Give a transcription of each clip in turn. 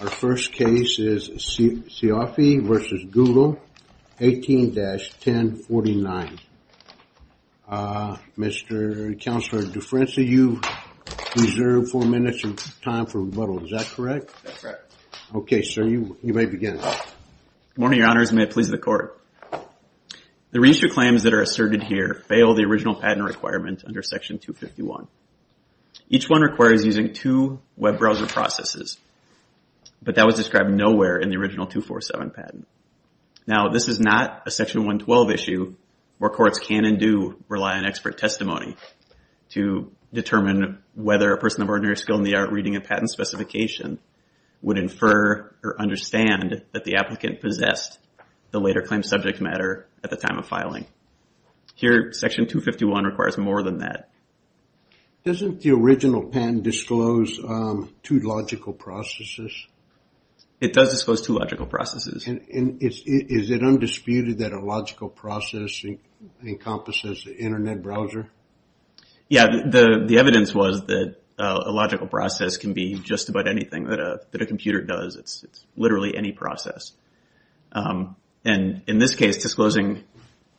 Our first case is Cioffi v. Google, 18-1049. Mr. Counselor, differential, you reserve four minutes of time for rebuttal. Is that correct? That's correct. Okay, sir, you may begin. Good morning, Your Honors, and may it please the Court. The reissue claims that are asserted here fail the original patent requirement under Section 251. Each one requires using two web browser processes, but that was described nowhere in the original 247 patent. Now, this is not a Section 112 issue where courts can and do rely on expert testimony to determine whether a person of ordinary skill in the art reading a patent specification would infer or understand that the applicant possessed the later claimed subject matter at the time of filing. Here, Section 251 requires more than that. Doesn't the original patent disclose two logical processes? It does disclose two logical processes. And is it undisputed that a logical process encompasses an internet browser? Yeah, the evidence was that a logical process can be just about anything that a computer does. It's literally any process. And in this case, disclosing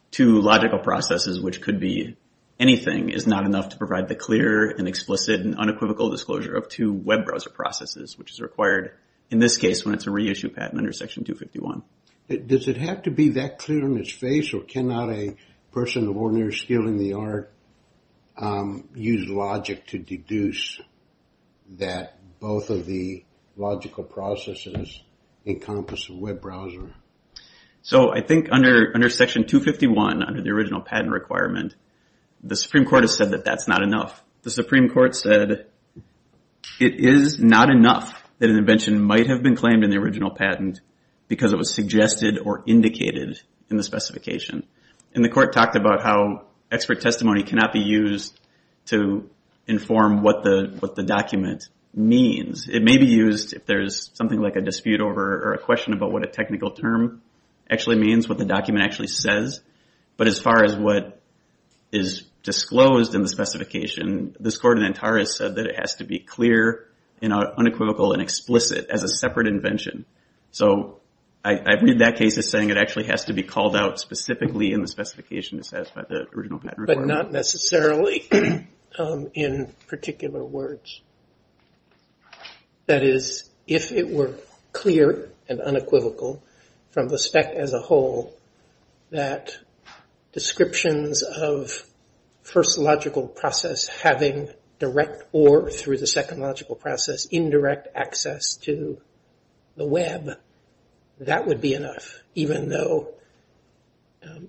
two logical processes, which could be anything, is not enough to provide the clear and explicit and unequivocal disclosure of two web browser processes, which is required in this case when it's a reissue patent under Section 251. Does it have to be that clear on its face, or cannot a person of ordinary skill in the art use logic to deduce that both of the logical processes encompass a web browser? So I think under Section 251, under the original patent requirement, the Supreme Court has said that that's not enough. The Supreme Court said it is not enough that an invention might have been claimed in the original patent because it was suggested or indicated in the specification. And the court talked about how expert testimony cannot be used to inform what the document means. It may be used if there's something like a dispute over or a question about what a technical term actually means, what the document actually says. But as far as what is disclosed in the specification, this court in Antares said that it has to be clear and unequivocal and explicit as a separate invention. So I read that case as saying it actually has to be called out specifically in the specification to satisfy the original patent requirement. But not necessarily in particular words. That is, if it were clear and unequivocal from the spec as a whole that descriptions of first logical process having direct or, through the second logical process, indirect access to the web, that would be enough, even though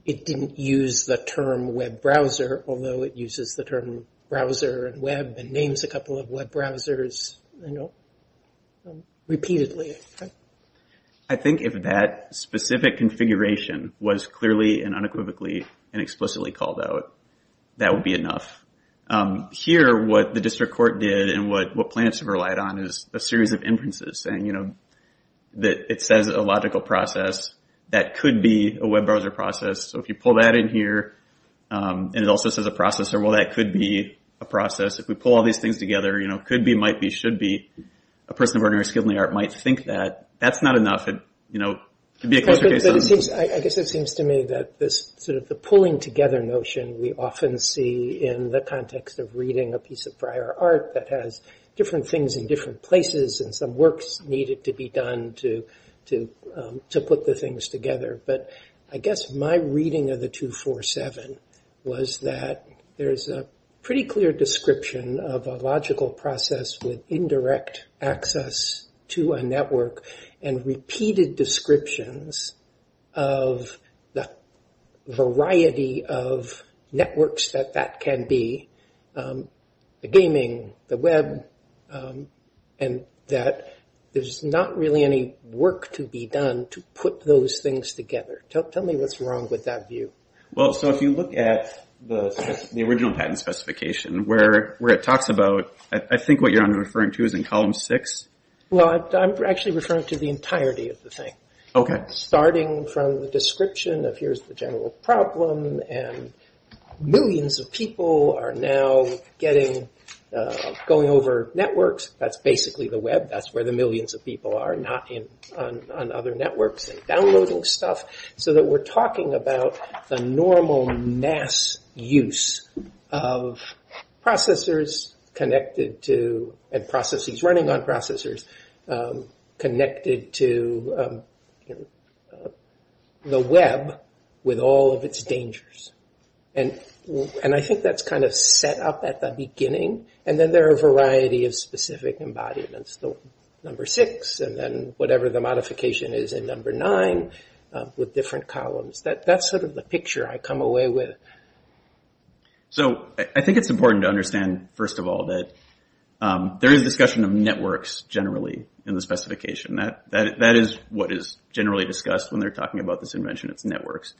it didn't use the term web browser, although it uses the term browser and web and names a couple of web browsers, you know, repeatedly. I think if that specific configuration was clearly and unequivocally and explicitly called out, that would be enough. Here, what the district court did and what plaintiffs have relied on is a series of inferences saying, you know, that it says a logical process, that could be a web browser process. So if you pull that in here and it also says a processor, well, that could be a process. If we pull all these things together, you know, could be, might be, should be, a person of ordinary skill in the art might think that. That's not enough. You know, it could be a closer case. I guess it seems to me that this sort of the pulling together notion we often see in the context of reading a piece of prior art that has different things in different places and some works needed to be done to put the things together. But I guess my reading of the 247 was that there's a pretty clear description of a logical process with indirect access to a network and repeated descriptions of the variety of networks that that can be, the gaming, the web, and that there's not really any work to be done to put those things together. Tell me what's wrong with that view. Well, so if you look at the original patent specification where it talks about, I think what you're referring to is in column six. Well, I'm actually referring to the entirety of the thing. Okay. Starting from the description of here's the general problem and millions of people are now getting, going over networks. That's basically the web. That's where the millions of people are, not on other networks. They're downloading stuff so that we're talking about the normal mass use of processors connected to and processes running on processors connected to the web with all of its dangers. And I think that's kind of set up at the beginning. And then there are a variety of specific embodiments. Number six and then whatever the modification is in number nine with different columns. That's sort of the picture I come away with. So I think it's important to understand, first of all, that there is discussion of networks generally in the specification. That is what is generally discussed when they're talking about this invention. It's networks.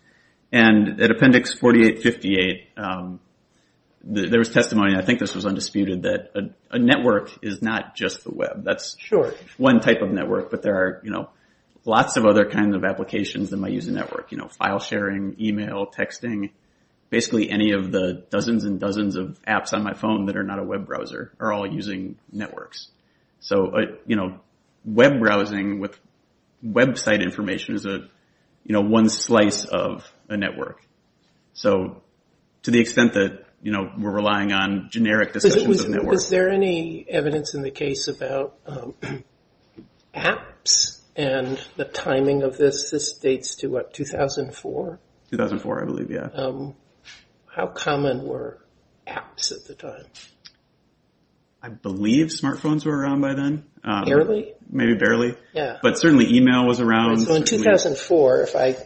And at appendix 4858, there was testimony, and I think this was undisputed, that a network is not just the web. That's one type of network, but there are lots of other kinds of applications in my user network. File sharing, email, texting, basically any of the dozens and dozens of apps on my phone that are not a web browser are all using networks. So web browsing with website information is one slice of a network. So to the extent that we're relying on generic discussions of networks. Was there any evidence in the case about apps and the timing of this? This dates to what, 2004? 2004, I believe, yeah. How common were apps at the time? I believe smartphones were around by then. Barely? Maybe barely. Yeah. But certainly email was around. In 2004, if I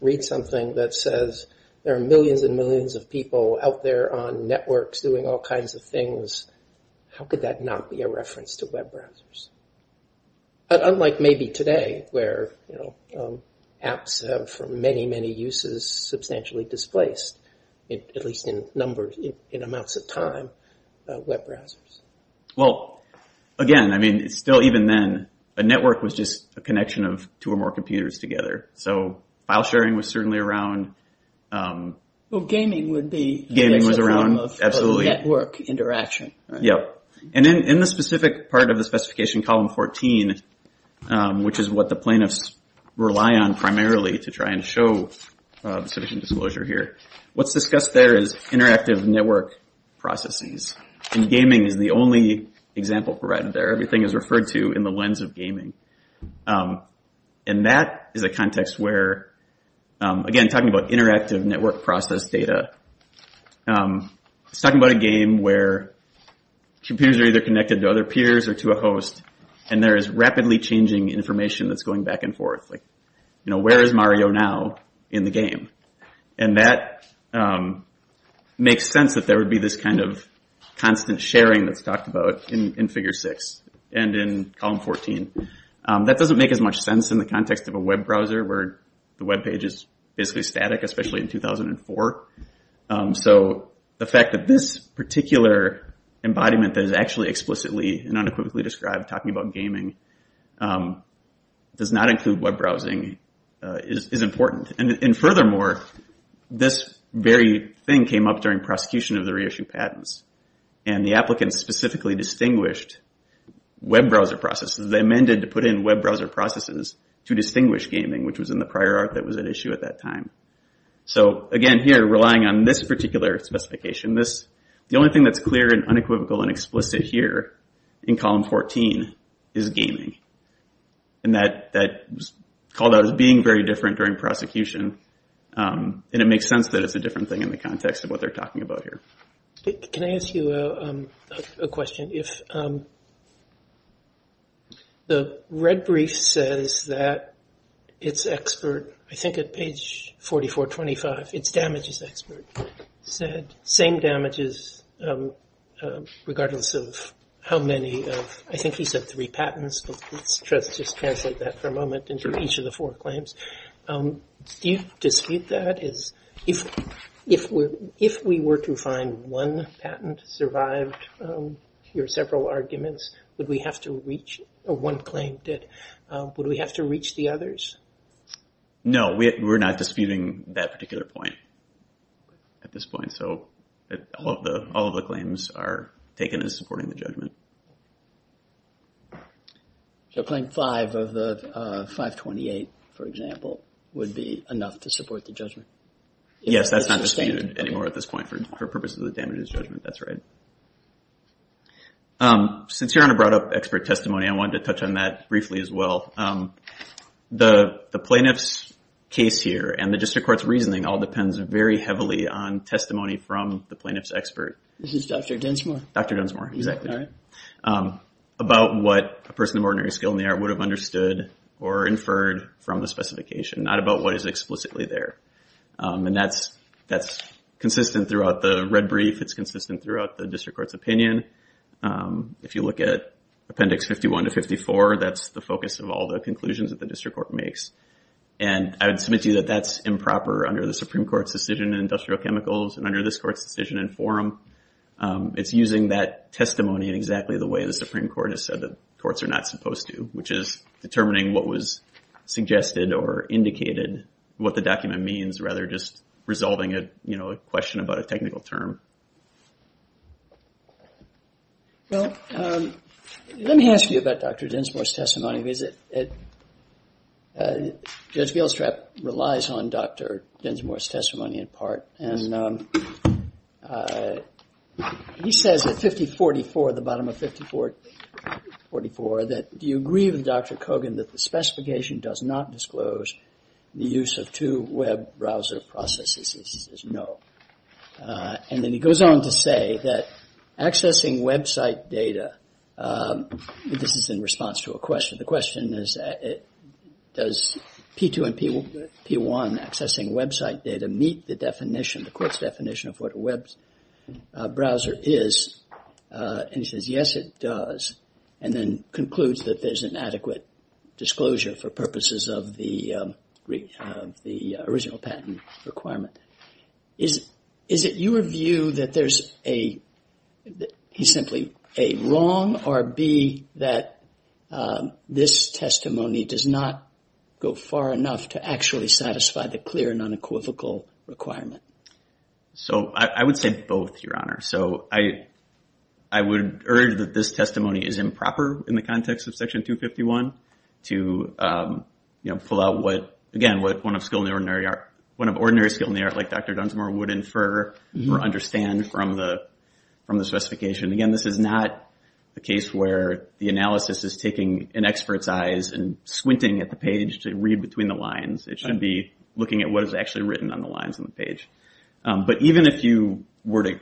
read something that says there are millions and millions of people out there on networks doing all kinds of things, how could that not be a reference to web browsers? But unlike maybe today where apps have, for many, many uses, substantially displaced, at least in numbers, in amounts of time, web browsers. Well, again, I mean, still even then, a network was just a connection of two or more computers together. So file sharing was certainly around. Well, gaming would be. Gaming was around, absolutely. A form of network interaction. Yep. And in the specific part of the specification, column 14, which is what the plaintiffs rely on primarily to try and show sufficient disclosure here, what's discussed there is interactive network processes. And gaming is the only example provided there. Everything is referred to in the lens of gaming. And that is a context where, again, talking about interactive network process data, it's talking about a game where computers are either connected to other peers or to a host and there is rapidly changing information that's going back and forth. Like, you know, where is Mario now in the game? And that makes sense that there would be this kind of constant sharing that's talked about in figure six and in column 14. That doesn't make as much sense in the context of a web browser where the web page is basically static, especially in 2004. So the fact that this particular embodiment that is actually explicitly and unequivocally described talking about gaming does not include web browsing is important. And furthermore, this very thing came up during prosecution of the reissue patents. And the applicants specifically distinguished web browser processes. They amended to put in web browser processes to distinguish gaming, which was in the prior art that was at issue at that time. So, again, here relying on this particular specification, the only thing that's clear and unequivocal and explicit here in column 14 is gaming. And that was called out as being very different during prosecution. And it makes sense that it's a different thing in the context of what they're talking about here. Can I ask you a question? If the red brief says that its expert, I think at page 4425, its damages expert, said same damages regardless of how many of, I think he said three patents. Let's just translate that for a moment into each of the four claims. Do you dispute that? If we were to find one patent survived your several arguments, would we have to reach one claim? Would we have to reach the others? No, we're not disputing that particular point at this point. So claim five of the 528, for example, would be enough to support the judgment? Yes, that's not disputed anymore at this point for purposes of the damages judgment. That's right. Since you're on a brought up expert testimony, I wanted to touch on that briefly as well. The plaintiff's case here and the district court's reasoning all depends very heavily on testimony from the plaintiff's expert. This is Dr. Dunsmore? Dr. Dunsmore, exactly. About what a person of ordinary skill in the art would have understood or inferred from the specification, not about what is explicitly there. And that's consistent throughout the red brief. It's consistent throughout the district court's opinion. If you look at appendix 51 to 54, that's the focus of all the conclusions that the district court makes. And I would submit to you that that's improper under the Supreme Court's decision in industrial chemicals. And under this court's decision in forum, it's using that testimony in exactly the way the Supreme Court has said the courts are not supposed to, which is determining what was suggested or indicated, what the document means, rather than just resolving a question about a technical term. Well, let me ask you about Dr. Dunsmore's testimony. Because Judge Gilstrap relies on Dr. Dunsmore's testimony in part. And he says at 5044, the bottom of 5044, that do you agree with Dr. Kogan that the specification does not disclose the use of two web browser processes? He says no. And then he goes on to say that accessing website data, this is in response to a question. The question is, does P2 and P1 accessing website data meet the definition, the court's definition of what a web browser is? And he says, yes, it does. And then concludes that there's an adequate disclosure for purposes of the original patent requirement. Is it your view that there's a, he's simply A, wrong, or B, that this testimony does not go far enough to actually satisfy the clear and unequivocal requirement? So I would say both, Your Honor. So I would urge that this testimony is improper in the context of Section 251 to pull out what, again, what one of ordinary skill in the art like Dr. Dunsmore would infer or understand from the specification. Again, this is not a case where the analysis is taking an expert's eyes and squinting at the page to read between the lines. It should be looking at what is actually written on the lines on the page. But even if you were to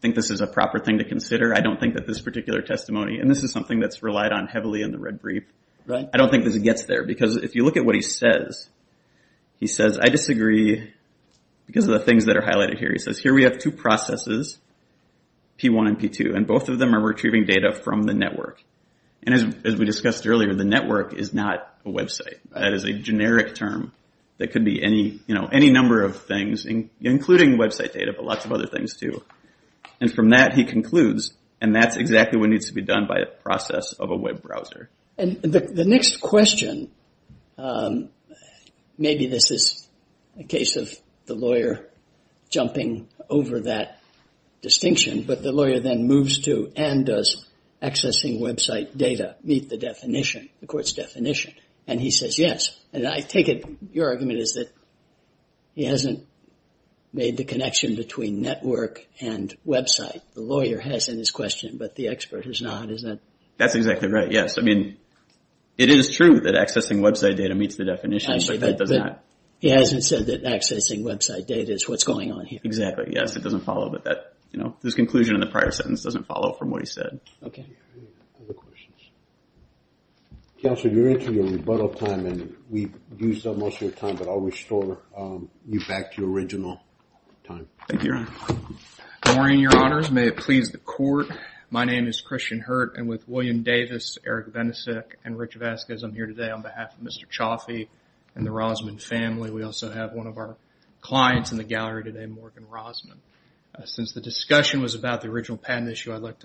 think this is a proper thing to consider, I don't think that this particular testimony, and this is something that's relied on heavily in the red brief, I don't think that it gets there. Because if you look at what he says, he says, I disagree because of the things that are highlighted here. He says, here we have two processes, P1 and P2, and both of them are retrieving data from the network. And as we discussed earlier, the network is not a website. That is a generic term that could be any number of things, including website data, but lots of other things, too. And from that, he concludes, and that's exactly what needs to be done by a process of a web browser. And the next question, maybe this is a case of the lawyer jumping over that distinction. But the lawyer then moves to, and does accessing website data meet the definition, the court's definition? And he says, yes. And I take it your argument is that he hasn't made the connection between network and website. The lawyer has in his question, but the expert has not. That's exactly right, yes. I mean, it is true that accessing website data meets the definition, but it does not. He hasn't said that accessing website data is what's going on here. Exactly, yes. It doesn't follow, but this conclusion in the prior sentence doesn't follow from what he said. Okay. Any other questions? Counselor, you're into your rebuttal time, and we've used up most of your time, but I'll restore you back to your original time. Thank you, Your Honor. Good morning, Your Honors. May it please the Court. My name is Christian Hurt, and with William Davis, Eric Benesik, and Rich Vasquez, I'm here today on behalf of Mr. Chaffee and the Rosman family. We also have one of our clients in the gallery today, Morgan Rosman. Since the discussion was about the original patent issue, I'd like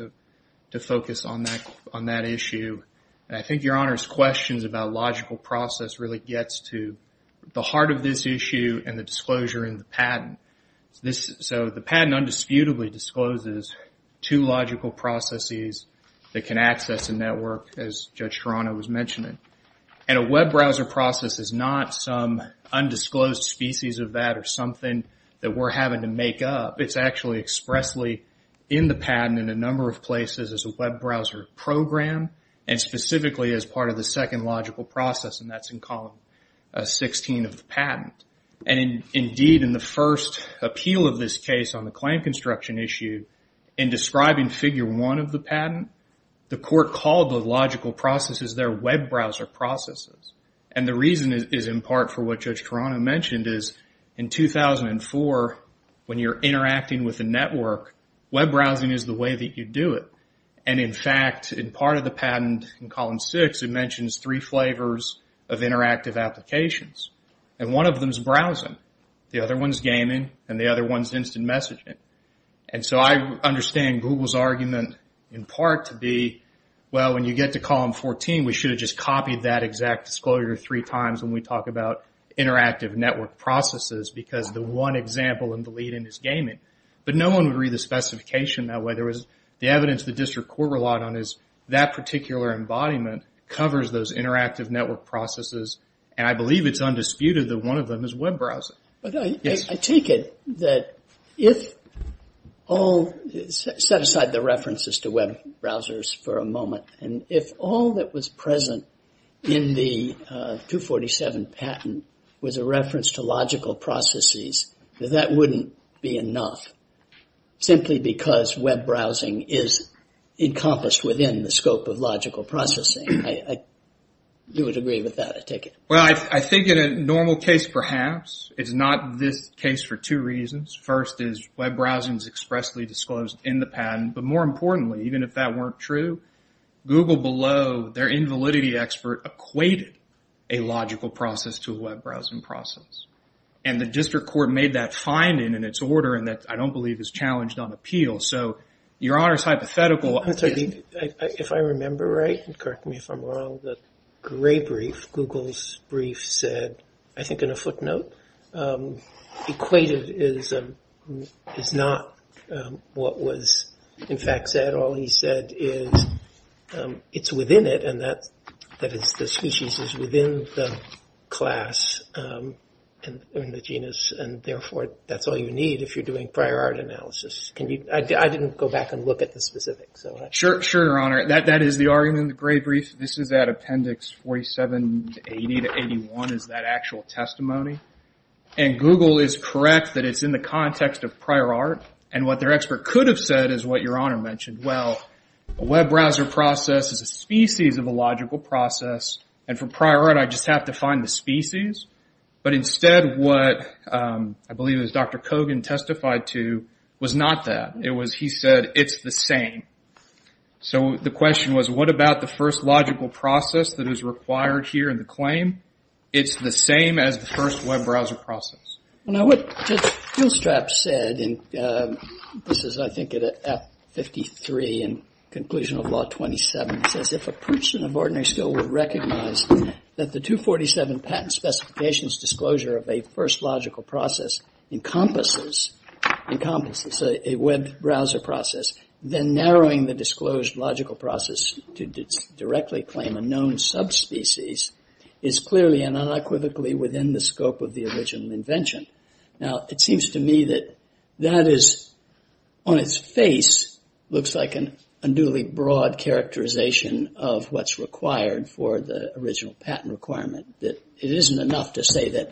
to focus on that issue. I think Your Honor's questions about logical process really gets to the heart of this issue and the disclosure in the patent. So the patent undisputably discloses two logical processes that can access a network, as Judge Toronto was mentioning. And a web browser process is not some undisclosed species of that or something that we're having to make up. It's actually expressly in the patent in a number of places as a web browser program and specifically as part of the second logical process, and that's in column 16 of the patent. And indeed, in the first appeal of this case on the claim construction issue, in describing figure one of the patent, the court called the logical processes their web browser processes. And the reason is in part for what Judge Toronto mentioned is in 2004, when you're interacting with a network, web browsing is the way that you do it. And in fact, in part of the patent in column 6, it mentions three flavors of interactive applications. And one of them's browsing. The other one's gaming, and the other one's instant messaging. And so I understand Google's argument in part to be, well, when you get to column 14, we should have just copied that exact disclosure three times when we talk about interactive network processes because the one example in the lead-in is gaming. But no one would read the specification that way. The evidence the district court relied on is that particular embodiment covers those interactive network processes, and I believe it's undisputed that one of them is web browsing. But I take it that if all – set aside the references to web browsers for a moment. And if all that was present in the 247 patent was a reference to logical processes, that that wouldn't be enough simply because web browsing is encompassed within the scope of logical processing. I do agree with that. I take it. Well, I think in a normal case, perhaps, it's not this case for two reasons. First is web browsing is expressly disclosed in the patent. But more importantly, even if that weren't true, Google below, their invalidity expert, equated a logical process to a web browsing process. And the district court made that finding in its order and that I don't believe is challenged on appeal. So your Honor's hypothetical – If I remember right, correct me if I'm wrong, the Gray brief, Google's brief, said, I think in a footnote, equated is not what was in fact said. All he said is it's within it and that the species is within the class and the genus. And therefore, that's all you need if you're doing prior art analysis. I didn't go back and look at the specifics. Sure, Your Honor. That is the argument in the Gray brief. This is at appendix 4780 to 81 is that actual testimony. And Google is correct that it's in the context of prior art. And what their expert could have said is what Your Honor mentioned. Well, a web browser process is a species of a logical process. And for prior art, I just have to find the species. But instead, what I believe it was Dr. Kogan testified to was not that. It was he said it's the same. So the question was, what about the first logical process that is required here in the claim? It's the same as the first web browser process. Now what Judge Gilstrap said, and this is I think at 53 in conclusion of Law 27, says if a person of ordinary skill would recognize that the 247 patent specifications disclosure of a first logical process encompasses a web browser process, then narrowing the disclosed logical process to directly claim a known subspecies is clearly and unequivocally within the scope of the original invention. Now it seems to me that that is on its face looks like an unduly broad characterization of what's required for the original patent requirement. It isn't enough to say that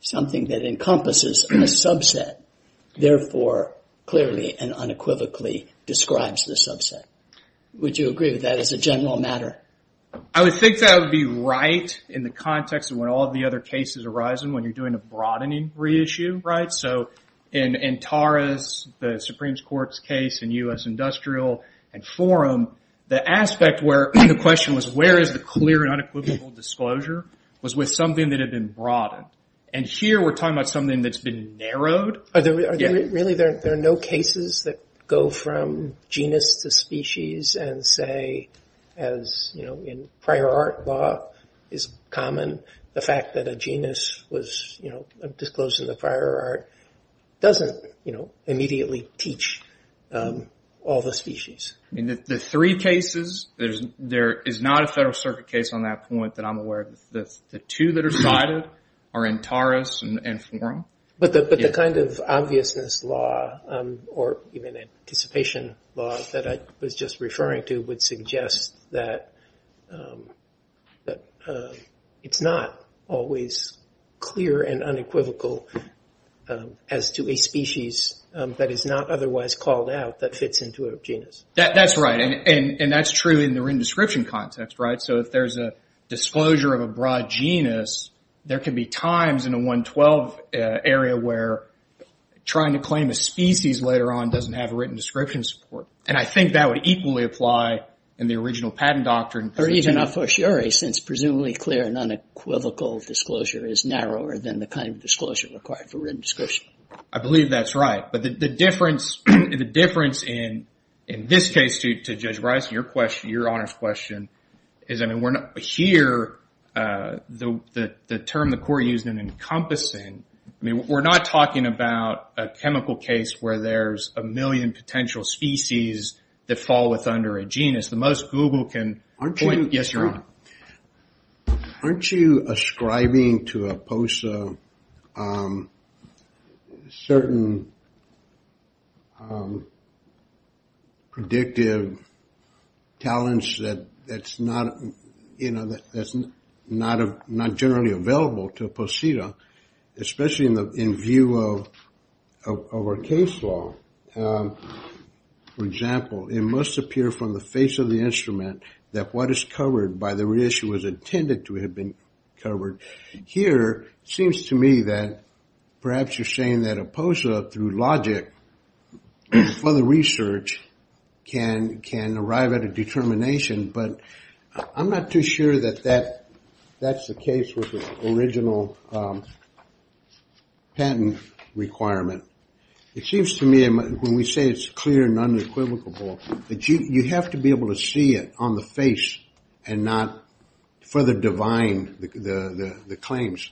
something that encompasses a subset, therefore clearly and unequivocally describes the subset. Would you agree with that as a general matter? I would think that would be right in the context of when all the other cases arise and when you're doing a broadening reissue, right? So in Tara's, the Supreme Court's case in U.S. Industrial and Forum, the aspect where the question was where is the clear and unequivocal disclosure was with something that had been broadened. And here we're talking about something that's been narrowed. Really there are no cases that go from genus to species and say as in prior art law is common, the fact that a genus was disclosed in the prior art doesn't immediately teach all the species. The three cases, there is not a Federal Circuit case on that point that I'm aware of. The two that are cited are in Tara's and Forum. But the kind of obviousness law or even anticipation law that I was just referring to would suggest that it's not always clear and unequivocal as to a species that is not otherwise called out that fits into a genus. That's right. And that's true in the written description context, right? So if there's a disclosure of a broad genus, there can be times in a 112 area where trying to claim a species later on doesn't have written description support. And I think that would equally apply in the original patent doctrine. Or even a fortiori since presumably clear and unequivocal disclosure is narrower than the kind of disclosure required for written description. I believe that's right. But the difference in this case to Judge Bryson, your Honor's question, is here the term the court used in encompassing, we're not talking about a chemical case where there's a million potential species that fall with under a genus. Aren't you... Yes, Your Honor. ...certain predictive talents that's not generally available to a poseta, especially in view of our case law. For example, it must appear from the face of the instrument that what is covered by the reissue was intended to have been covered. Here it seems to me that perhaps you're saying that a poseta through logic and further research can arrive at a determination. But I'm not too sure that that's the case with the original patent requirement. It seems to me when we say it's clear and unequivocal, that you have to be able to see it on the face and not further divine the claims.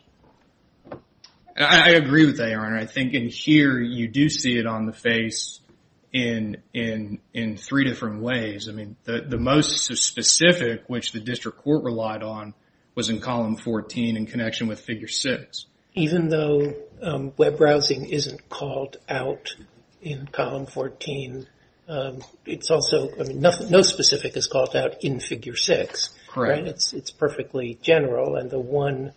I agree with that, Your Honor. I think in here you do see it on the face in three different ways. I mean, the most specific, which the district court relied on, was in column 14 in connection with figure six. Even though web browsing isn't called out in column 14, it's also... I mean, no specific is called out in figure six. Correct. It's perfectly general, and the one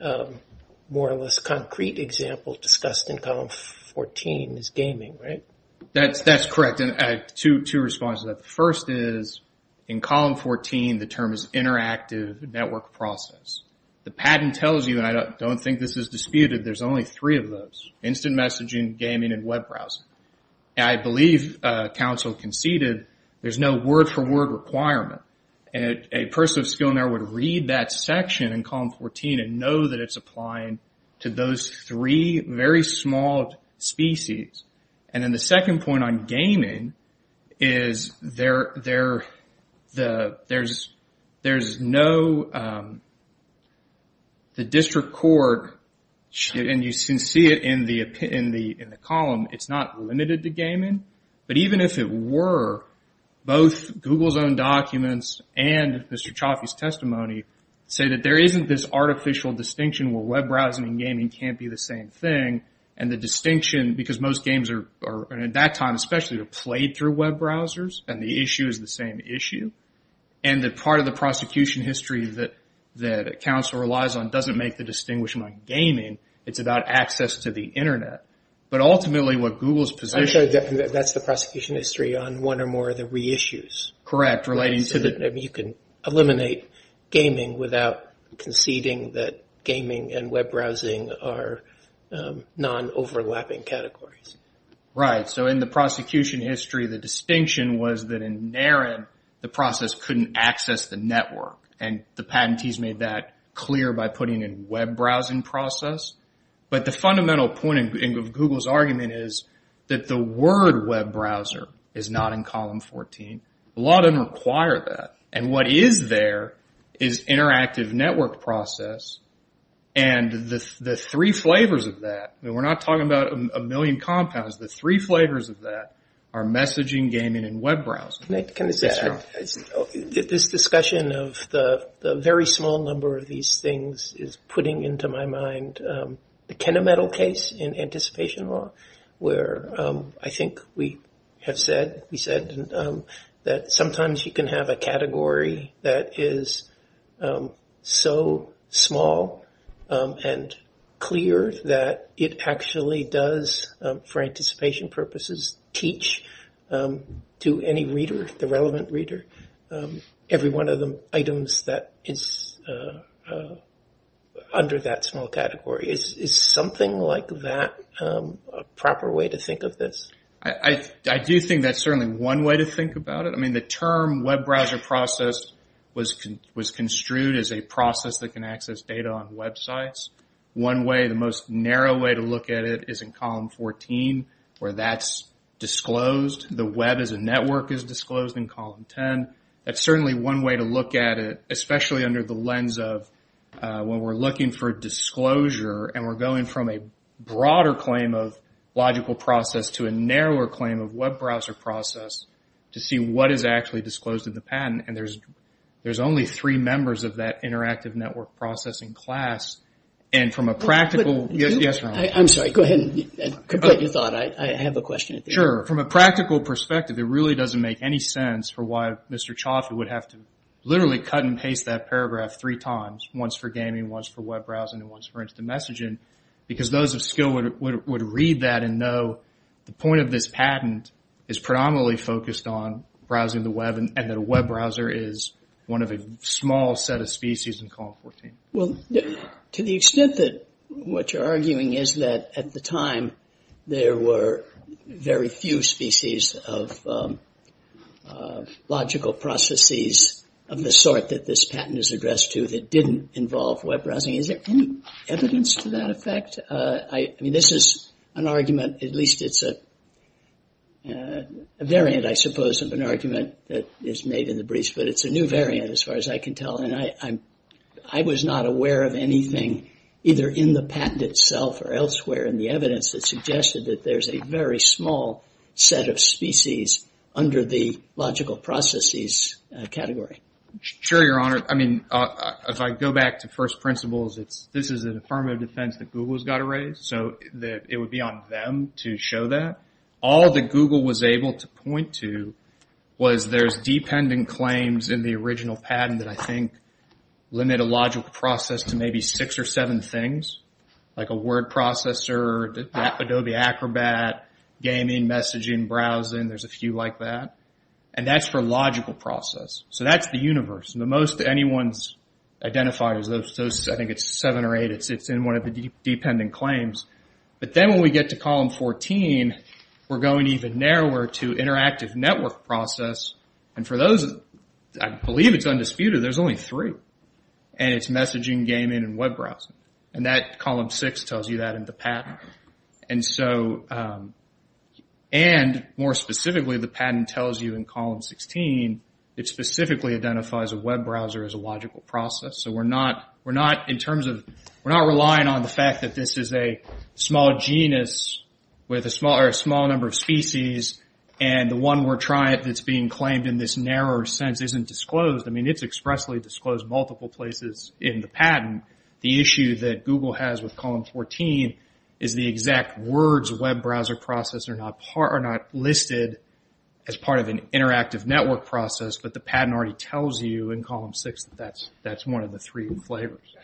more or less concrete example discussed in column 14 is gaming, right? That's correct. I have two responses to that. The first is in column 14 the term is interactive network process. The patent tells you, and I don't think this is disputed, there's only three of those, instant messaging, gaming, and web browsing. I believe counsel conceded there's no word-for-word requirement. A person of skill in there would read that section in column 14 and know that it's applying to those three very small species. And then the second point on gaming is there's no... the district court, and you can see it in the column, it's not limited to gaming. But even if it were, both Google's own documents and Mr. Chaffee's testimony say that there isn't this artificial distinction where web browsing and gaming can't be the same thing, and the distinction, because most games at that time, especially, were played through web browsers, and the issue is the same issue, and that part of the prosecution history that counsel relies on doesn't make the distinction on gaming. It's about access to the Internet. But ultimately what Google's position... That's the prosecution history on one or more of the reissues. Correct, relating to the... You can eliminate gaming without conceding that gaming and web browsing are non-overlapping categories. Right, so in the prosecution history, the distinction was that in NARIN, the process couldn't access the network, and the patentees made that clear by putting in web browsing process. But the fundamental point of Google's argument is that the word web browser is not in column 14. The law doesn't require that. And what is there is interactive network process, and the three flavors of that, and we're not talking about a million compounds, the three flavors of that are messaging, gaming, and web browsing. Can I say that? Yes, John. This discussion of the very small number of these things is putting into my mind the Kenna Metal case in anticipation law, where I think we have said, that sometimes you can have a category that is so small and clear that it actually does, for anticipation purposes, teach to any reader, the relevant reader, every one of the items that is under that small category. Is something like that a proper way to think of this? I do think that's certainly one way to think about it. I mean, the term web browser process was construed as a process that can access data on websites. One way, the most narrow way to look at it is in column 14, where that's disclosed. The web as a network is disclosed in column 10. That's certainly one way to look at it, especially under the lens of when we're looking for disclosure, and we're going from a broader claim of logical process to a narrower claim of web browser process to see what is actually disclosed in the patent. And there's only three members of that interactive network processing class, and from a practical... I'm sorry, go ahead and complete your thought. I have a question. Sure. From a practical perspective, it really doesn't make any sense for why Mr. Chalfie would have to literally cut and paste that paragraph three times, once for gaming, once for web browsing, and once for instant messaging, because those of skill would read that and know the point of this patent is predominantly focused on browsing the web and that a web browser is one of a small set of species in column 14. Well, to the extent that what you're arguing is that at the time there were very few species of logical processes of the sort that this patent is addressed to that didn't involve web browsing, is there any evidence to that effect? I mean, this is an argument, at least it's a variant, I suppose, of an argument that is made in the briefs, but it's a new variant as far as I can tell, and I was not aware of anything either in the patent itself or elsewhere in the evidence that suggested that there's a very small set of species under the logical processes category. Sure, Your Honor. I mean, if I go back to first principles, this is an affirmative defense that Google has got to raise, so it would be on them to show that. All that Google was able to point to was there's dependent claims in the original patent that I think limit a logical process to maybe six or seven things, like a word processor, Adobe Acrobat, gaming, messaging, browsing, there's a few like that, and that's for logical process. So that's the universe. The most anyone's identified is those, I think it's seven or eight, it's in one of the dependent claims. But then when we get to column 14, we're going even narrower to interactive network process, and for those, I believe it's undisputed, there's only three, and it's messaging, gaming, and web browsing. And that column six tells you that in the patent. And more specifically, the patent tells you in column 16, it specifically identifies a web browser as a logical process. So we're not relying on the fact that this is a small genus or a small number of species, and the one we're trying that's being claimed in this narrower sense isn't disclosed. I mean, it's expressly disclosed multiple places in the patent. The issue that Google has with column 14 is the exact words are not listed as part of an interactive network process, but the patent already tells you in column six that that's one of the three flavors.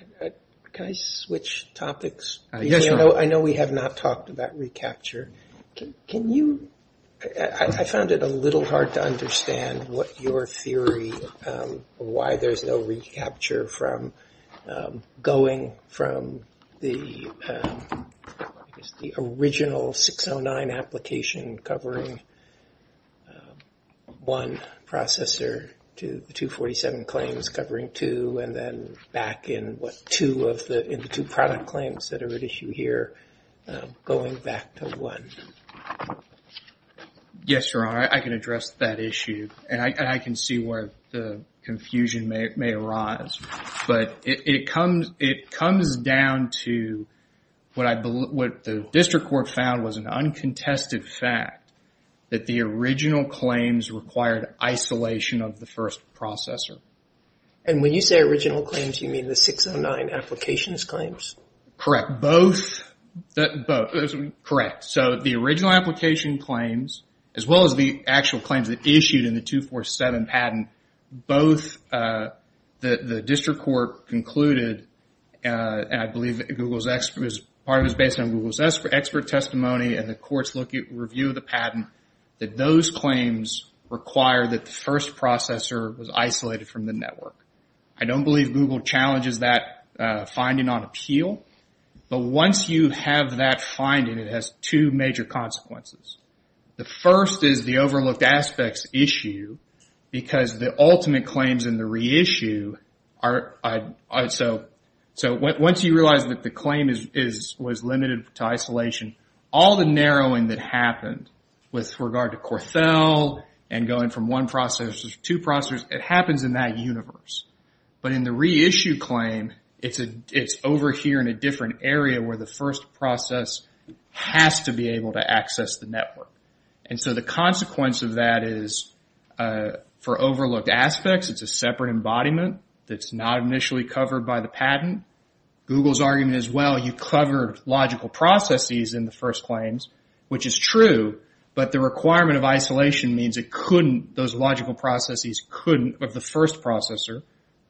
Can I switch topics? Yes, sir. I know we have not talked about recapture. Can you – I found it a little hard to understand what your theory, why there's no recapture from going from the original 609 application covering one processor to the 247 claims covering two, and then back in what two of the – in the two product claims that are at issue here, going back to one? Yes, Your Honor. I can address that issue. And I can see where the confusion may arise. But it comes down to what the district court found was an uncontested fact that the original claims required isolation of the first processor. And when you say original claims, you mean the 609 applications claims? Correct. Both? Both. Correct. So the original application claims, as well as the actual claims that issued in the 247 patent, both the district court concluded, and I believe part of it was based on Google's expert testimony and the court's review of the patent, that those claims require that the first processor was isolated from the network. I don't believe Google challenges that finding on appeal. But once you have that finding, it has two major consequences. The first is the overlooked aspects issue, because the ultimate claims in the reissue are – so once you realize that the claim was limited to isolation, all the narrowing that happened with regard to Corthell and going from one processor to two processors, it happens in that universe. But in the reissue claim, it's over here in a different area where the first process has to be able to access the network. And so the consequence of that is, for overlooked aspects, it's a separate embodiment that's not initially covered by the patent. Google's argument is, well, you covered logical processes in the first claims, which is true, but the requirement of isolation means it couldn't – those logical processes couldn't – the first processor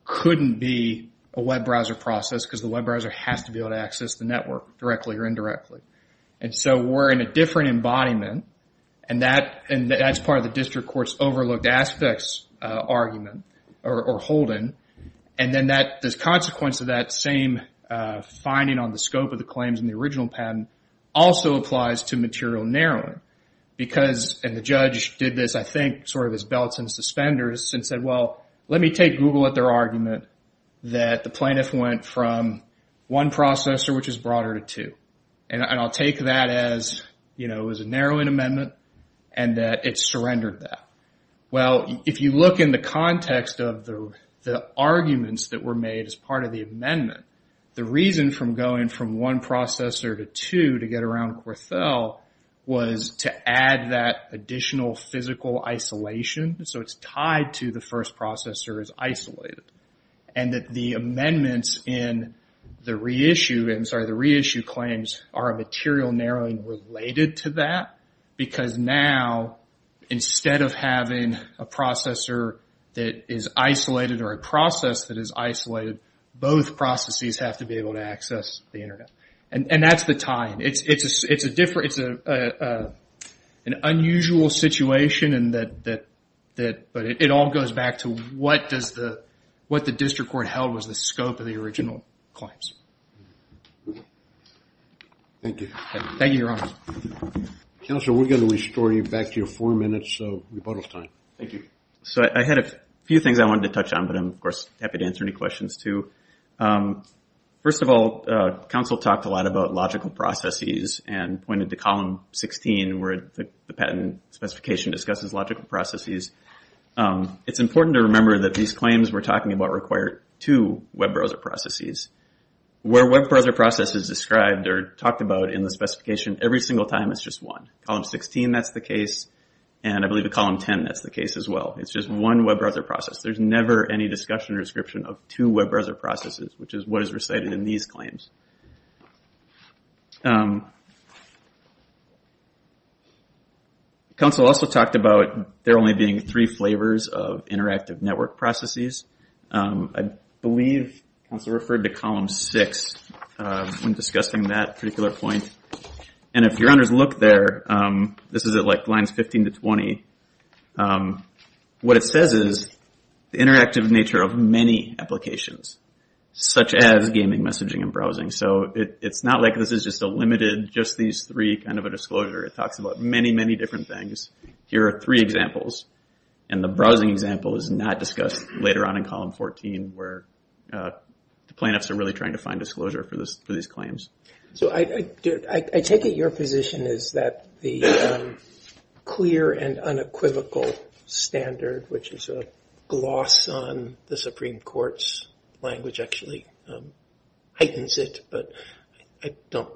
couldn't be a web browser process because the web browser has to be able to access the network directly or indirectly. And so we're in a different embodiment, and that's part of the district court's overlooked aspects argument or holding. And then the consequence of that same finding on the scope of the claims in the original patent also applies to material narrowing, because – and the judge did this, I think, sort of as belts and suspenders and said, well, let me take Google at their argument that the plaintiff went from one processor, which is broader, to two. And I'll take that as, you know, it was a narrowing amendment and that it surrendered that. Well, if you look in the context of the arguments that were made as part of the amendment, the reason from going from one processor to two to get around Corthell was to add that additional physical isolation. So it's tied to the first processor is isolated. And that the amendments in the reissue – I'm sorry, the reissue claims are a material narrowing related to that, because now instead of having a processor that is isolated or a process that is isolated, both processes have to be able to access the Internet. And that's the tie-in. It's a different – it's an unusual situation, but it all goes back to what does the – what the district court held was the scope of the original claims. Thank you. Thank you, Your Honor. Counsel, we're going to restore you back to your four minutes of rebuttal time. Thank you. So I had a few things I wanted to touch on, but I'm, of course, happy to answer any questions, too. First of all, counsel talked a lot about logical processes and pointed to column 16 where the patent specification discusses logical processes. It's important to remember that these claims we're talking about require two web browser processes. Where web browser process is described or talked about in the specification, every single time it's just one. Column 16, that's the case, and I believe at column 10 that's the case as well. It's just one web browser process. There's never any discussion or description of two web browser processes, which is what is recited in these claims. Counsel also talked about there only being three flavors of interactive network processes. I believe counsel referred to column 6 when discussing that particular point, and if your honors look there, this is at, like, lines 15 to 20, what it says is the interactive nature of many applications, such as gaming, messaging, and browsing. So it's not like this is just a limited, just these three kind of a disclosure. It talks about many, many different things. Here are three examples, and the browsing example is not discussed later on in column 14 where the plaintiffs are really trying to find disclosure for these claims. So I take it your position is that the clear and unequivocal standard, which is a gloss on the Supreme Court's language, actually heightens it, but I don't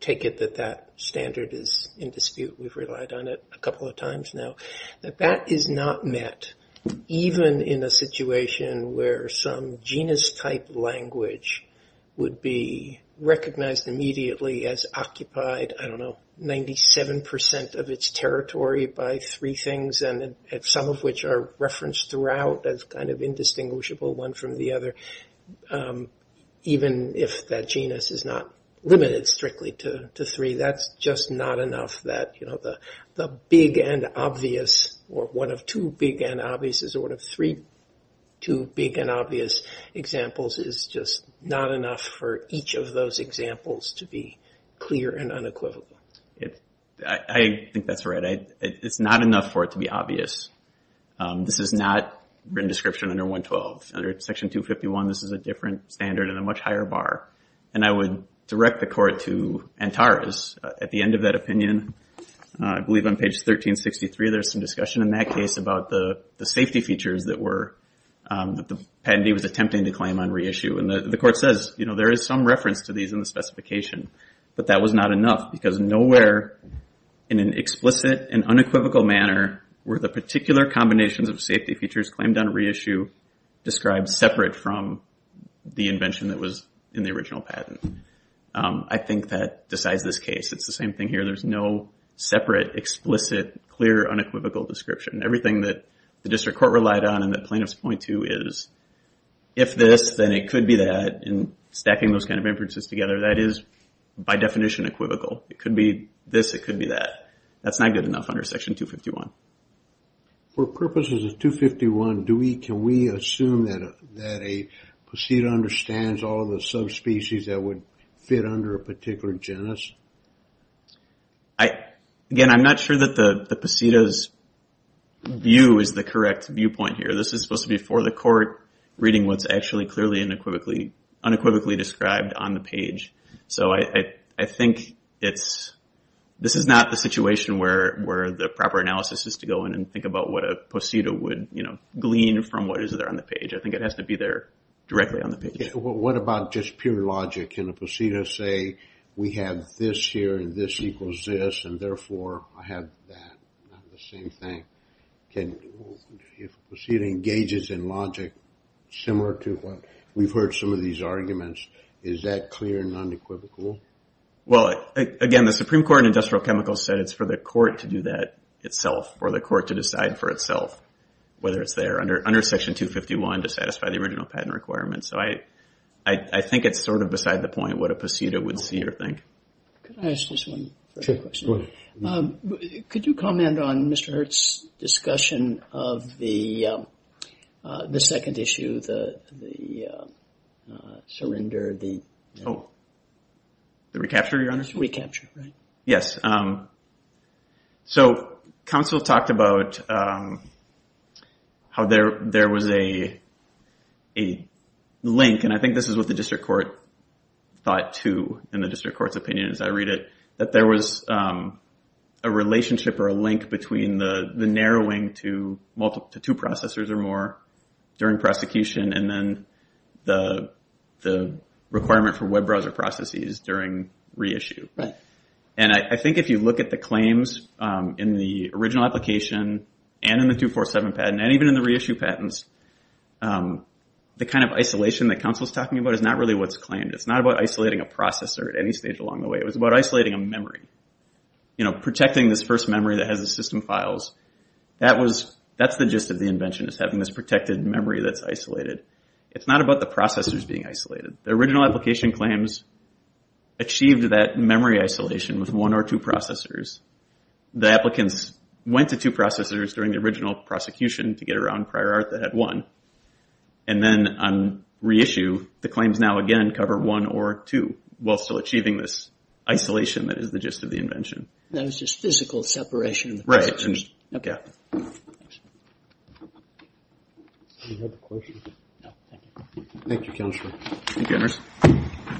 take it that that standard is in dispute. We've relied on it a couple of times now. That that is not met, even in a situation where some genus-type language would be recognized immediately as occupied, I don't know, 97% of its territory by three things, some of which are referenced throughout as kind of indistinguishable one from the other, even if that genus is not limited strictly to three. That's just not enough that the big and obvious, or one of two big and obvious, or one of three big and obvious examples is just not enough for each of those examples to be clear and unequivocal. I think that's right. It's not enough for it to be obvious. This is not written description under 112. Under Section 251, this is a different standard and a much higher bar. And I would direct the Court to Antares. At the end of that opinion, I believe on page 1363, there's some discussion in that case about the safety features that the patentee was attempting to claim on reissue. And the Court says there is some reference to these in the specification, but that was not enough because nowhere in an explicit and unequivocal manner were the particular combinations of safety features claimed on reissue described separate from the invention that was in the original patent. I think that decides this case. It's the same thing here. There's no separate, explicit, clear, unequivocal description. Everything that the District Court relied on that plaintiffs point to is, if this, then it could be that. And stacking those kind of inferences together, that is by definition equivocal. It could be this, it could be that. That's not good enough under Section 251. For purposes of 251, can we assume that a posseda understands all the subspecies that would fit under a particular genus? Again, I'm not sure that the posseda's view is the correct viewpoint here. This is supposed to be for the Court, reading what's actually clearly unequivocally described on the page. So I think this is not the situation where the proper analysis is to go in and think about what a posseda would glean from what is there on the page. I think it has to be there directly on the page. What about just pure logic? Can a posseda say, we have this here and this equals this, and therefore I have that? Not the same thing. If a posseda engages in logic similar to what we've heard some of these arguments, is that clear and unequivocal? Well, again, the Supreme Court in Industrial Chemicals said it's for the Court to do that itself, or the Court to decide for itself whether it's there. Under Section 251, to satisfy the original patent requirements. So I think it's sort of beside the point what a posseda would see or think. Can I ask just one question? Could you comment on Mr. Hurte's discussion of the second issue, the surrender, the... Oh, the recapture, Your Honor? Recapture, right. Yes. So counsel talked about how there was a link, and I think this is what the District Court thought too, in the District Court's opinion as I read it, that there was a relationship or a link between the narrowing to two processors or more during prosecution and then the requirement for web browser processes during reissue. Right. And I think if you look at the claims in the original application and in the 247 patent and even in the reissue patents, the kind of isolation that counsel's talking about is not really what's claimed. It's not about isolating a processor at any stage along the way. It was about isolating a memory. Protecting this first memory that has the system files, that's the gist of the invention, is having this protected memory that's isolated. It's not about the processors being isolated. The original application claims achieved that memory isolation with one or two processors. The applicants went to two processors during the original prosecution to get around prior art that had one. And then on reissue, the claims now again cover one or two while still achieving this isolation that is the gist of the invention. That is just physical separation of the processors. Right. Okay. Thanks. Any other questions? No, thank you. Thank you, Counselor. Thank you, Ernest.